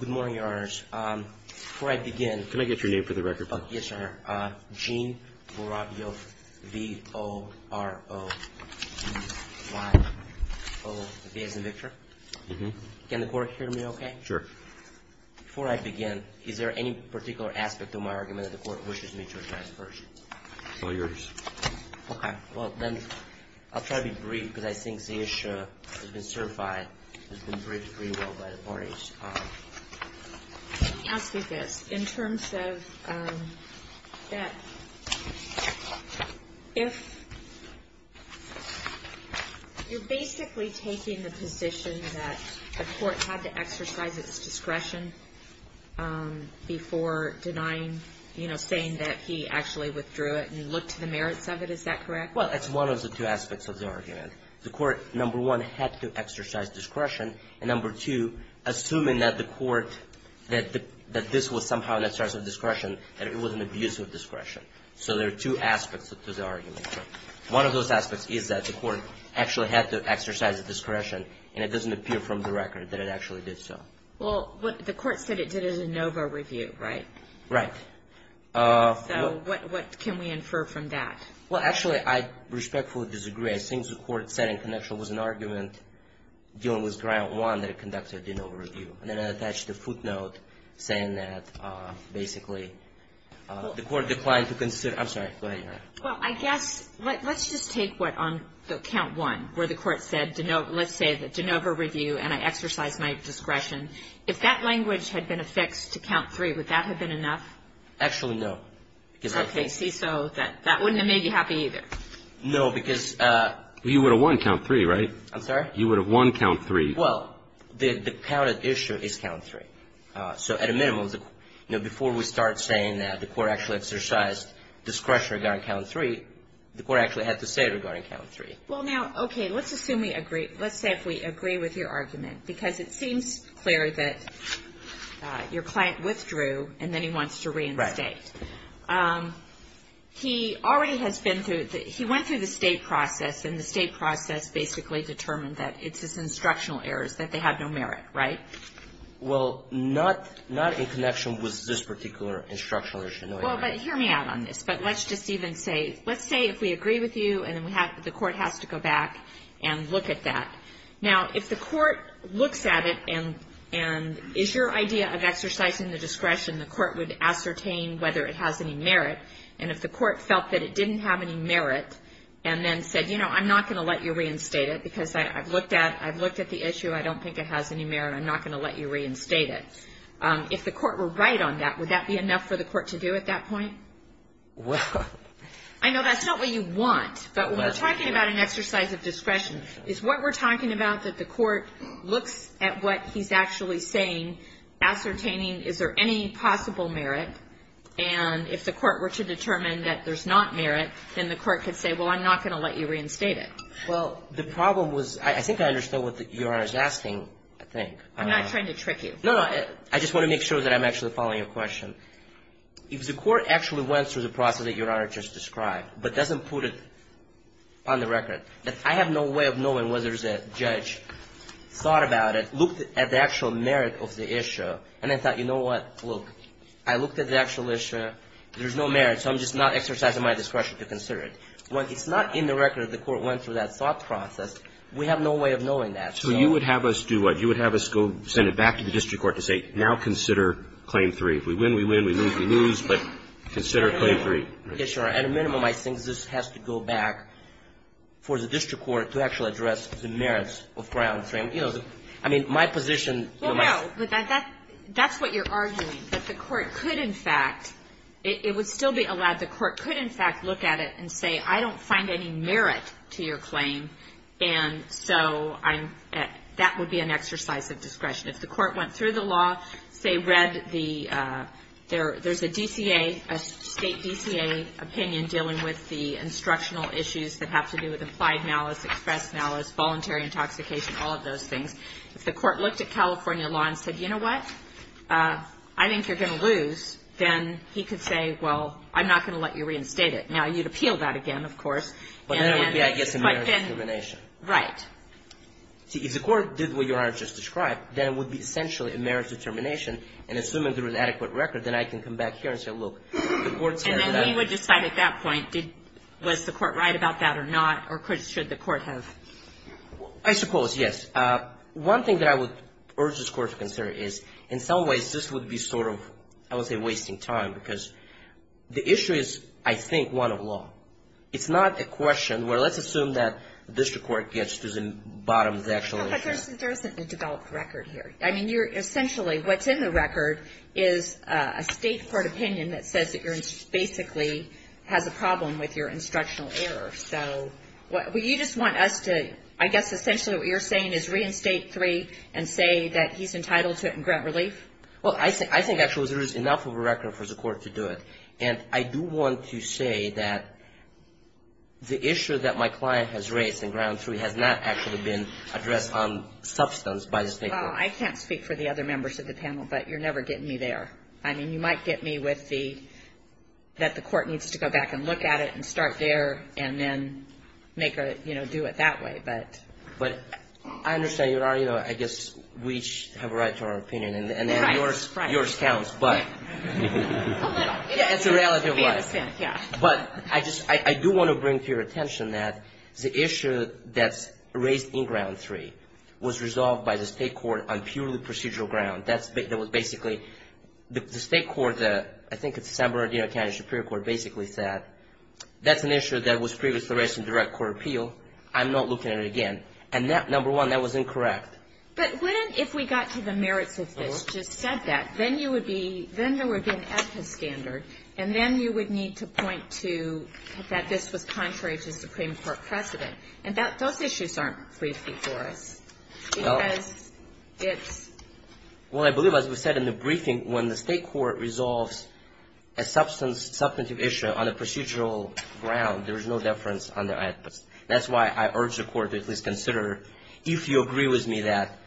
Good morning, your honors. Before I begin... Can I get your name for the record, please? Yes, sir. Gene Vorovyov, V-O-R-O-V-Y-O-V as in Victor. Mm-hmm. Can the court hear me okay? Sure. Before I begin, is there any particular aspect of my argument that the court wishes me to address first? All yours. Okay. Well, then, I'll try to be brief because I think the issue has been certified, it's been treated pretty well by the parties. Let me ask you this. In terms of that, if you're basically taking the position that the court had to exercise its discretion before denying, you know, saying that he actually withdrew it and looked to the merits of it, is that correct? Well, that's one of the two aspects of the argument. The court, number one, had to exercise discretion, and number two, assuming that the court, that this was somehow an exercise of discretion, that it was an abuse of discretion. So there are two aspects to the argument. One of those aspects is that the court actually had to exercise discretion, and it doesn't appear from the record that it actually did so. Well, the court said it did a de novo review, right? Right. So what can we infer from that? Well, actually, I respectfully disagree. I think the court said in connection with an argument dealing with ground one that it conducted a de novo review. And then I attached a footnote saying that basically the court declined to consider. I'm sorry. Go ahead, Your Honor. Well, I guess let's just take what on the count one where the court said, let's say that de novo review, and I exercised my discretion. If that language had been affixed to count three, would that have been enough? Actually, no. Okay. See, so that wouldn't have made you happy either. No, because you would have won count three, right? I'm sorry? You would have won count three. Well, the counted issue is count three. So at a minimum, before we start saying that the court actually exercised discretion regarding count three, the court actually had to say it regarding count three. Well, now, okay, let's assume we agree. Let's say if we agree with your argument, because it seems clear that your client withdrew, and then he wants to reinstate. Right. He already has been through the – he went through the state process, and the state process basically determined that it's his instructional errors, that they have no merit, right? Well, not in connection with this particular instructional issue. No, Your Honor. Well, but hear me out on this. But let's just even say – let's say if we agree with you, and then the court has to go back and look at that. Now, if the court looks at it and is your idea of exercising the discretion, the court would ascertain whether it has any merit. And if the court felt that it didn't have any merit and then said, you know, I'm not going to let you reinstate it because I've looked at the issue. I don't think it has any merit. I'm not going to let you reinstate it. If the court were right on that, would that be enough for the court to do at that point? Well. I know that's not what you want. But when we're talking about an exercise of discretion, it's what we're talking about that the court looks at what he's actually saying, ascertaining is there any possible merit. And if the court were to determine that there's not merit, then the court could say, well, I'm not going to let you reinstate it. Well, the problem was – I think I understood what Your Honor is asking, I think. I'm not trying to trick you. No, no. I just want to make sure that I'm actually following your question. If the court actually went through the process that Your Honor just described but doesn't put it on the record, that I have no way of knowing whether there's a judge thought about it, looked at the actual merit of the issue, and then thought, you know what, look, I looked at the actual issue, there's no merit, so I'm just not exercising my discretion to consider it. When it's not in the record that the court went through that thought process, we have no way of knowing that. So you would have us do what? You would have us go send it back to the district court to say, now consider Claim 3. If we win, we win. If we lose, we lose. But consider Claim 3. Yes, Your Honor. At a minimum, I think this has to go back for the district court to actually address the merits of Claim 3. You know, I mean, my position. Well, no. That's what you're arguing, that the court could, in fact, it would still be allowed. The court could, in fact, look at it and say, I don't find any merit to your claim, and so that would be an exercise of discretion. If the court went through the law, say, read the, there's a DCA, a State DCA opinion dealing with the instructional issues that have to do with implied malice, express malice, voluntary intoxication, all of those things. If the court looked at California law and said, you know what, I think you're going to lose, then he could say, well, I'm not going to let you reinstate it. Now, you'd appeal that again, of course. But then it would be, I guess, a merit discrimination. Right. See, if the court did what Your Honor just described, then it would be essentially a merit determination, and assuming there was an adequate record, then I can come back here and say, look, the court said that. And then he would decide at that point, did, was the court right about that or not, or should the court have? I suppose, yes. One thing that I would urge this Court to consider is, in some ways, this would be sort of, I would say, wasting time, because the issue is, I think, one of law. It's not a question where let's assume that the district court gets to the bottom of the actual issue. But there isn't a developed record here. I mean, you're essentially, what's in the record is a state court opinion that says that you're basically has a problem with your instructional error. So, well, you just want us to, I guess, essentially what you're saying is reinstate three and say that he's entitled to it and grant relief? Well, I think, actually, there is enough of a record for the court to do it. And I do want to say that the issue that my client has raised in ground three has not actually been addressed on substance by the state court. Well, I can't speak for the other members of the panel, but you're never getting me there. I mean, you might get me with the, that the court needs to go back and look at it and start there and then make a, you know, do it that way, but. But I understand your argument. I guess we each have a right to our opinion. Right, right. And then yours counts, but. A little. Yeah, it's a reality of life. Yeah. But I just, I do want to bring to your attention that the issue that's raised in ground three was resolved by the state court on purely procedural ground. That's, that was basically, the state court, I think it's the San Bernardino County Superior Court basically said, that's an issue that was previously raised in direct court appeal. I'm not looking at it again. And that, number one, that was incorrect. But wouldn't, if we got to the merits of this, just said that, then you would be, then there would be an APA standard. And then you would need to point to that this was contrary to Supreme Court precedent. And that, those issues aren't briefed before us. Because it's. Well, I believe, as we said in the briefing, when the state court resolves a substantive issue on a procedural ground, there is no deference on the APA standard. That's why I urge the court to at least consider, if you agree with me that,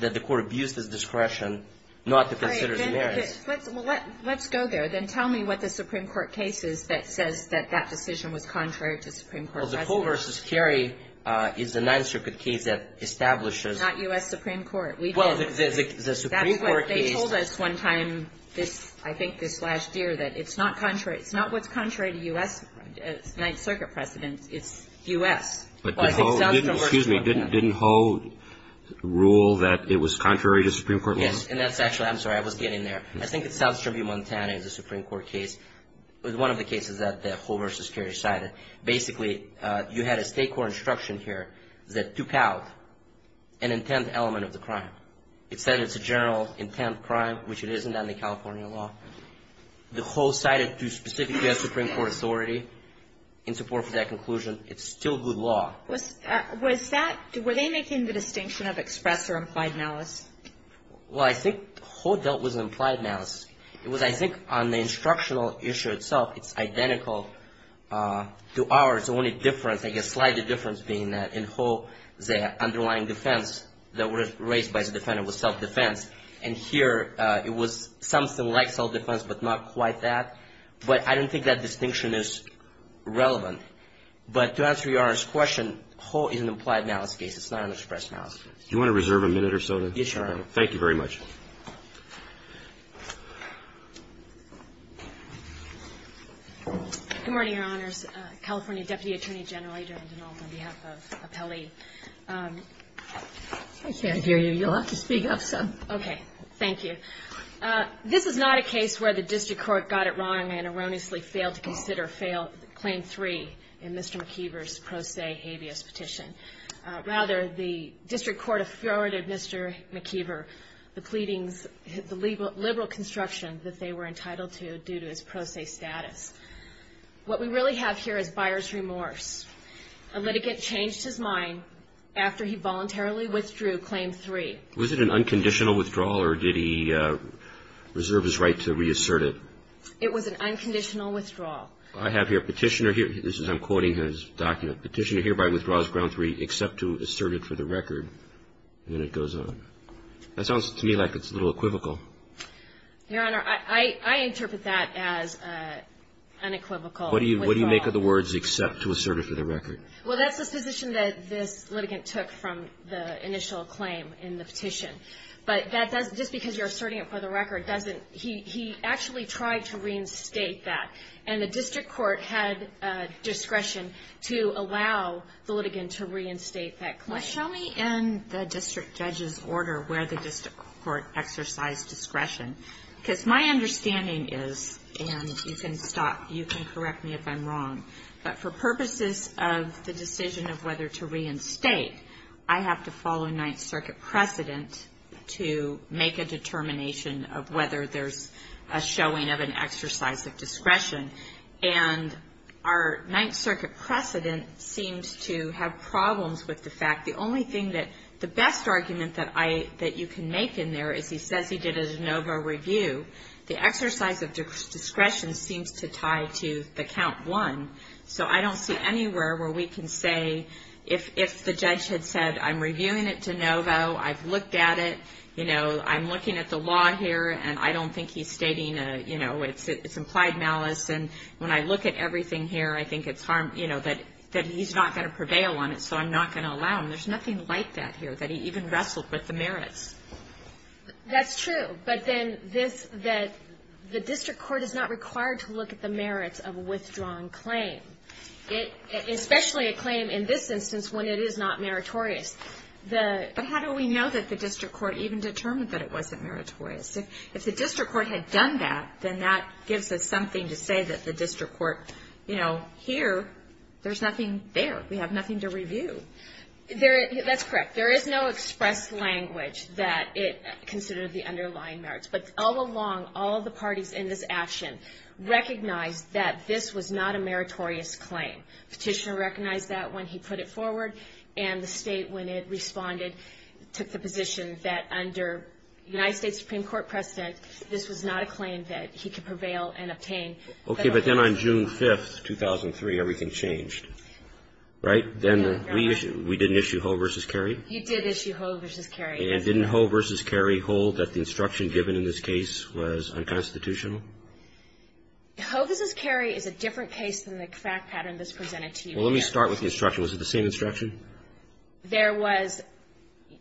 that the court abused its discretion not to consider the merits. All right. Let's, well, let's go there. Then tell me what the Supreme Court case is that says that that decision was contrary to Supreme Court precedent. Well, the Cole v. Cary is a Ninth Circuit case that establishes. Not U.S. Supreme Court. We did. Well, the Supreme Court case. That's what they told us one time this, I think this last year, that it's not contrary, it's not contrary to U.S. Ninth Circuit precedent. It's U.S. Well, it's South Tribune, Montana. Excuse me. Didn't Cole rule that it was contrary to Supreme Court law? Yes. And that's actually. I'm sorry. I was getting there. I think it's South Tribune, Montana. It's a Supreme Court case. It was one of the cases that the Cole v. Cary cited. Basically, you had a state court instruction here that took out an intent element of the crime. It said it's a general intent crime, which it isn't under California law. The Cole cited to specifically a Supreme Court authority in support for that conclusion. It's still good law. Was that. Were they making the distinction of express or implied malice? Well, I think Cole dealt with implied malice. It was, I think, on the instructional issue itself, it's identical to ours. The only difference, I guess, slightly difference being that in Cole, the underlying defense that was raised by the defendant was self-defense. And here, it was something like self-defense, but not quite that. But I don't think that distinction is relevant. But to answer Your Honor's question, Cole is an implied malice case. It's not an express malice case. Do you want to reserve a minute or so? Yes, Your Honor. Thank you very much. Good morning, Your Honors. California Deputy Attorney General Adrian Dinnall, on behalf of Appellee. I can't hear you. You'll have to speak up some. Okay. Thank you. This is not a case where the district court got it wrong and erroneously failed to consider claim three in Mr. McKeever's pro se habeas petition. Rather, the district court afforded Mr. McKeever the pleadings, the liberal construction that they were entitled to due to his pro se status. What we really have here is buyer's remorse. A litigant changed his mind after he voluntarily withdrew claim three. Was it an unconditional withdrawal or did he reserve his right to reassert it? It was an unconditional withdrawal. I have here a petitioner here. This is I'm quoting his document. Petitioner hereby withdraws ground three except to assert it for the record. And it goes on. That sounds to me like it's a little equivocal. Your Honor, I interpret that as an unequivocal withdrawal. What do you make of the words except to assert it for the record? Well, that's a position that this litigant took from the initial claim in the petition. But just because you're asserting it for the record, he actually tried to reinstate that. And the district court had discretion to allow the litigant to reinstate that claim. Well, show me in the district judge's order where the district court exercised discretion. Because my understanding is, and you can correct me if I'm wrong, but for purposes of the decision of whether to reinstate, I have to follow Ninth Circuit precedent to make a determination of whether there's a showing of an exercise of discretion. And our Ninth Circuit precedent seems to have problems with the fact, the only thing that the best argument that you can make in there is he says he did a de novo review. The exercise of discretion seems to tie to the count one. So I don't see anywhere where we can say if the judge had said, I'm reviewing it de novo, I've looked at it, you know, I'm looking at the law here, and I don't think he's stating, you know, it's implied malice. And when I look at everything here, I think it's harm, you know, that he's not going to prevail on it. So I'm not going to allow him. There's nothing like that here, that he even wrestled with the merits. That's true. But then this, that the district court is not required to look at the merits of a withdrawn claim, especially a claim in this instance when it is not meritorious. But how do we know that the district court even determined that it wasn't meritorious? If the district court had done that, then that gives us something to say that the district court, you know, here, there's nothing there. We have nothing to review. That's correct. There is no express language that it considered the underlying merits. But all along, all of the parties in this action recognized that this was not a meritorious claim. Petitioner recognized that when he put it forward, and the state, when it responded, took the position that under United States Supreme Court precedent, this was not a claim that he could prevail and obtain. Okay. But then on June 5th, 2003, everything changed, right? Then we didn't issue Hoe v. Carey? You did issue Hoe v. Carey. And didn't Hoe v. Carey hold that the instruction given in this case was unconstitutional? Hoe v. Carey is a different case than the fact pattern that's presented to you here. Well, let me start with the instruction. Was it the same instruction? There was,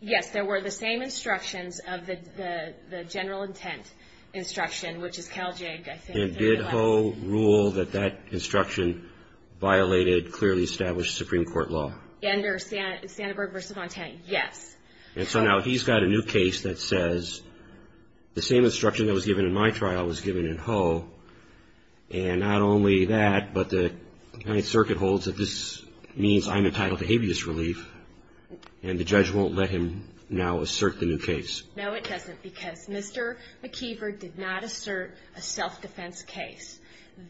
yes, there were the same instructions of the general intent instruction, which is Cal JAG, I think. And did Hoe rule that that instruction violated clearly established Supreme Court law? Under Sandberg v. Montana, yes. And so now he's got a new case that says the same instruction that was given in my trial was given in Hoe, and not only that, but the United Circuit holds that this means I'm entitled to habeas relief, and the judge won't let him now assert the new case. No, it doesn't, because Mr. McKeever did not assert a self-defense case.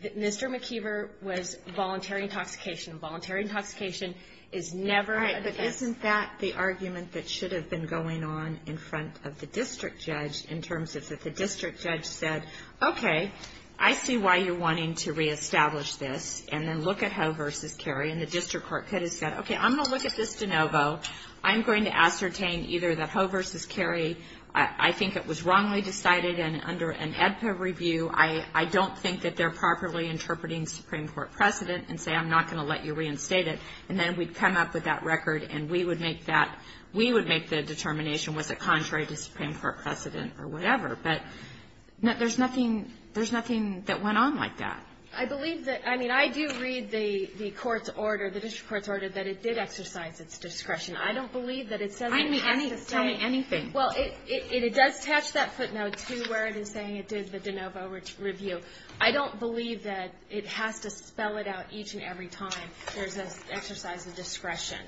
Mr. McKeever was voluntary intoxication. Voluntary intoxication is never a defense. All right, but isn't that the argument that should have been going on in front of the district judge, in terms of if the district judge said, okay, I see why you're wanting to reestablish this, and then look at Hoe v. Carey, and the district court could have said, okay, I'm going to look at this de novo. I'm going to ascertain either that Hoe v. Carey, I think it was wrongly decided, and under an AEDPA review, I don't think that they're properly interpreting Supreme Court precedent and say I'm not going to let you reinstate it, and then we'd come up with that record and we would make that we would make the determination was it contrary to Supreme Court precedent or whatever. But there's nothing that went on like that. I believe that, I mean, I do read the court's order, the district court's order, that it did exercise its discretion. I don't believe that it says it has to say. Tell me anything. Well, it does attach that footnote to where it is saying it did the de novo review. I don't believe that it has to spell it out each and every time there's an exercise of discretion.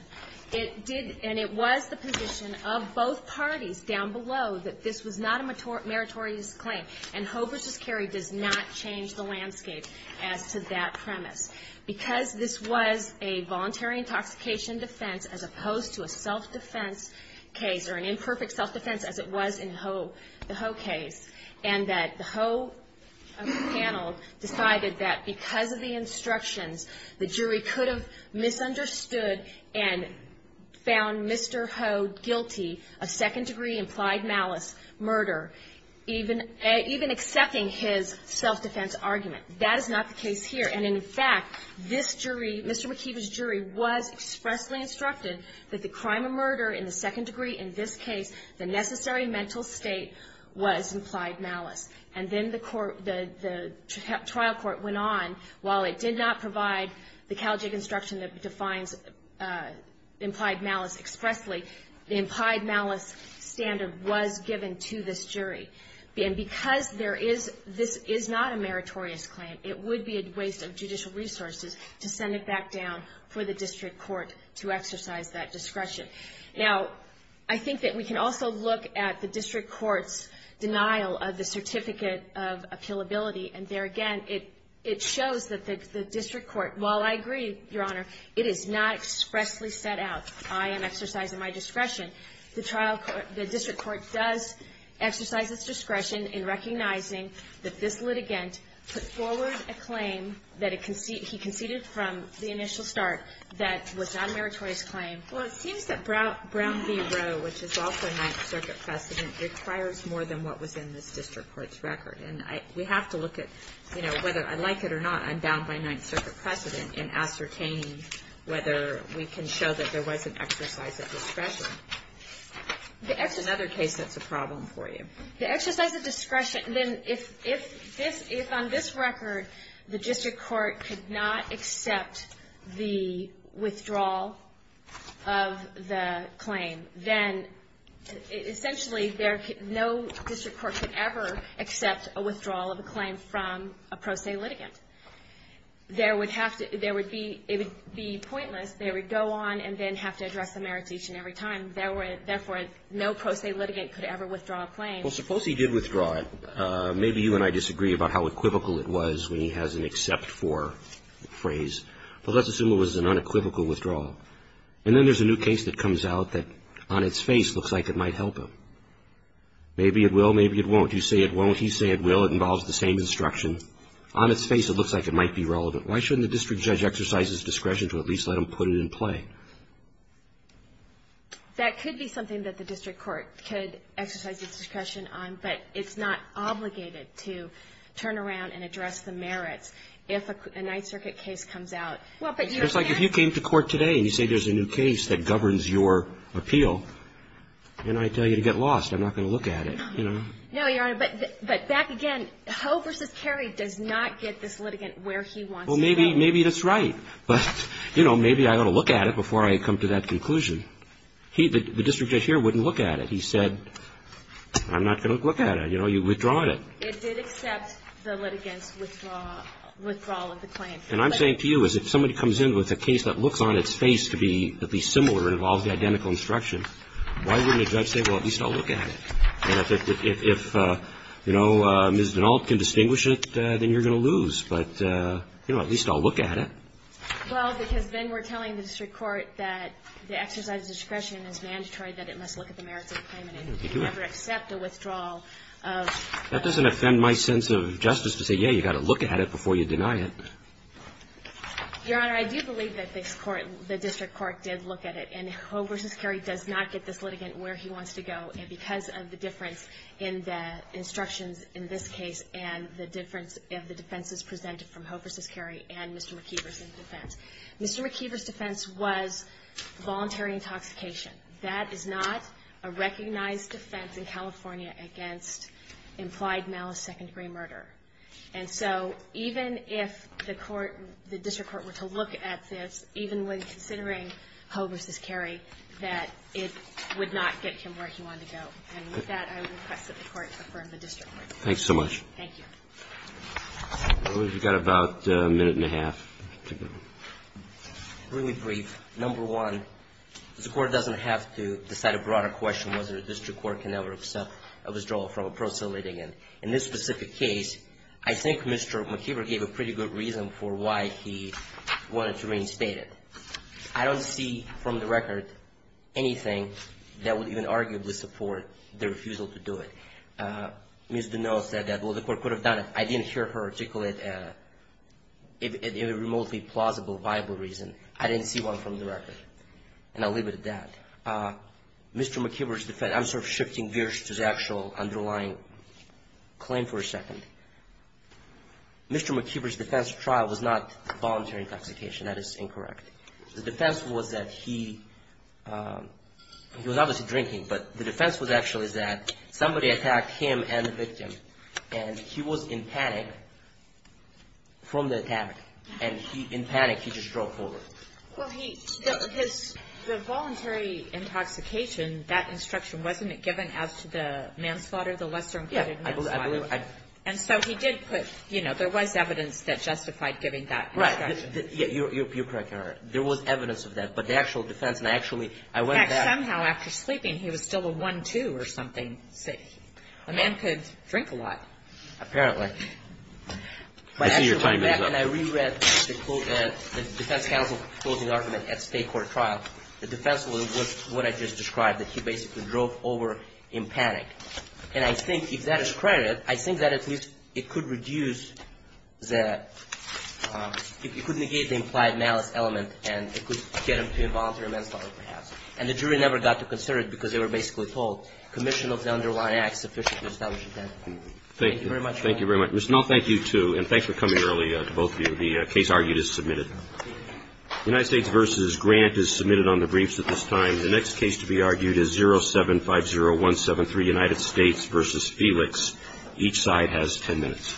It did, and it was the position of both parties down below that this was not a meritorious claim, and Hoe v. Carey does not change the landscape as to that premise. Because this was a voluntary intoxication defense as opposed to a self-defense case or an imperfect self-defense as it was in the Hoe case, and that the Hoe panel decided that because of the instructions, the jury could have misunderstood and found Mr. Hoe guilty of second-degree implied malice murder, even accepting his self-defense argument. That is not the case here. And, in fact, this jury, Mr. McKeever's jury, was expressly instructed that the crime of murder in the second degree in this case, the necessary mental state, was implied malice. And then the trial court went on. While it did not provide the Caljig instruction that defines implied malice expressly, the implied malice standard was given to this jury. And because this is not a meritorious claim, it would be a waste of judicial resources to send it back down for the district court to exercise that discretion. Now, I think that we can also look at the district court's denial of the certificate of appealability, and there again it shows that the district court, while I agree, Your Honor, it is not expressly set out. I am exercising my discretion. The trial court, the district court does exercise its discretion in recognizing that this litigant put forward a claim that he conceded from the initial start that was not a meritorious claim. Well, it seems that Brown v. Roe, which is also a Ninth Circuit precedent, requires more than what was in this district court's record. And we have to look at, you know, whether I like it or not, I'm bound by Ninth Circuit precedent in ascertaining whether we can show that there was an exercise of discretion. That's another case that's a problem for you. The exercise of discretion, then if on this record the district court could not accept the withdrawal of the claim, then essentially no district court could ever accept a withdrawal of a claim from a pro se litigant. There would have to, there would be, it would be pointless. They would go on and then have to address the meritation every time. Therefore, no pro se litigant could ever withdraw a claim. Well, suppose he did withdraw it. Maybe you and I disagree about how equivocal it was when he has an except for phrase. But let's assume it was an unequivocal withdrawal. And then there's a new case that comes out that on its face looks like it might help him. Maybe it will, maybe it won't. You say it won't, he say it will. It involves the same instruction. On its face it looks like it might be relevant. Why shouldn't the district judge exercise his discretion to at least let him put it in play? That could be something that the district court could exercise its discretion on, but it's not obligated to turn around and address the merits if a Ninth Circuit case comes out. It's like if you came to court today and you say there's a new case that governs your appeal, and I tell you to get lost, I'm not going to look at it. You know? No, Your Honor, but back again. Ho versus Kerry does not get this litigant where he wants to go. Well, maybe that's right. But, you know, maybe I ought to look at it before I come to that conclusion. The district judge here wouldn't look at it. He said, I'm not going to look at it. You know, you've withdrawn it. It did accept the litigant's withdrawal of the claim. And I'm saying to you is if somebody comes in with a case that looks on its face to be similar and involves the identical instruction, why wouldn't a judge say, well, at least I'll look at it? And if, you know, Ms. Dinault can distinguish it, then you're going to lose. But, you know, at least I'll look at it. Well, because then we're telling the district court that the exercise of discretion is mandatory, that it must look at the merits of the claim, and it can never accept a withdrawal of the claim. That doesn't offend my sense of justice to say, yeah, you've got to look at it before you deny it. Your Honor, I do believe that the district court did look at it. And Ho versus Kerry does not get this litigant where he wants to go. And because of the difference in the instructions in this case and the difference of the defenses presented from Ho versus Kerry and Mr. McKeever's defense. Mr. McKeever's defense was voluntary intoxication. That is not a recognized defense in California against implied malice, second-degree murder. And so even if the court, the district court were to look at this, even when considering Ho versus Kerry, that it would not get him where he wanted to go. And with that, I would request that the court affirm the district court. Thanks so much. Thank you. Well, we've got about a minute and a half to go. Really brief. Number one, the court doesn't have to decide a broader question whether a district court can ever accept a withdrawal from a proselytizing. And in this specific case, I think Mr. McKeever gave a pretty good reason for why he wanted to reinstate it. I don't see from the record anything that would even arguably support the refusal to do it. Ms. Dunneau said that, well, the court could have done it. I didn't hear her articulate it in a remotely plausible, viable reason. I didn't see one from the record. And I'll leave it at that. Mr. McKeever's defense, I'm sort of shifting gears to the actual underlying claim for a second. Mr. McKeever's defense trial was not voluntary intoxication. That is incorrect. The defense was that he was obviously drinking, but the defense was actually that somebody attacked him and the victim, and he was in panic from the attack. And in panic, he just drove forward. Well, he – the voluntary intoxication, that instruction, wasn't it given as to the manslaughter, the lesser-included manslaughter? Yeah. And so he did put – you know, there was evidence that justified giving that instruction. Right. You're correct, Your Honor. There was evidence of that. But the actual defense, and I actually – I went to that. In fact, somehow, after sleeping, he was still a one-two or something. A man could drink a lot. Apparently. I see your timing is up. No, and I reread the defense counsel's closing argument at state court trial. The defense was what I just described, that he basically drove over in panic. And I think if that is credited, I think that at least it could reduce the – it could negate the implied malice element and it could get him to involuntary manslaughter, perhaps. And the jury never got to consider it because they were basically told, commission of the underlying act sufficient to establish intent. Thank you very much, Your Honor. Thank you very much. Ms. Null, thank you, too. And thanks for coming early to both of you. The case argued is submitted. United States v. Grant is submitted on the briefs at this time. The next case to be argued is 0750173, United States v. Felix. Each side has 10 minutes.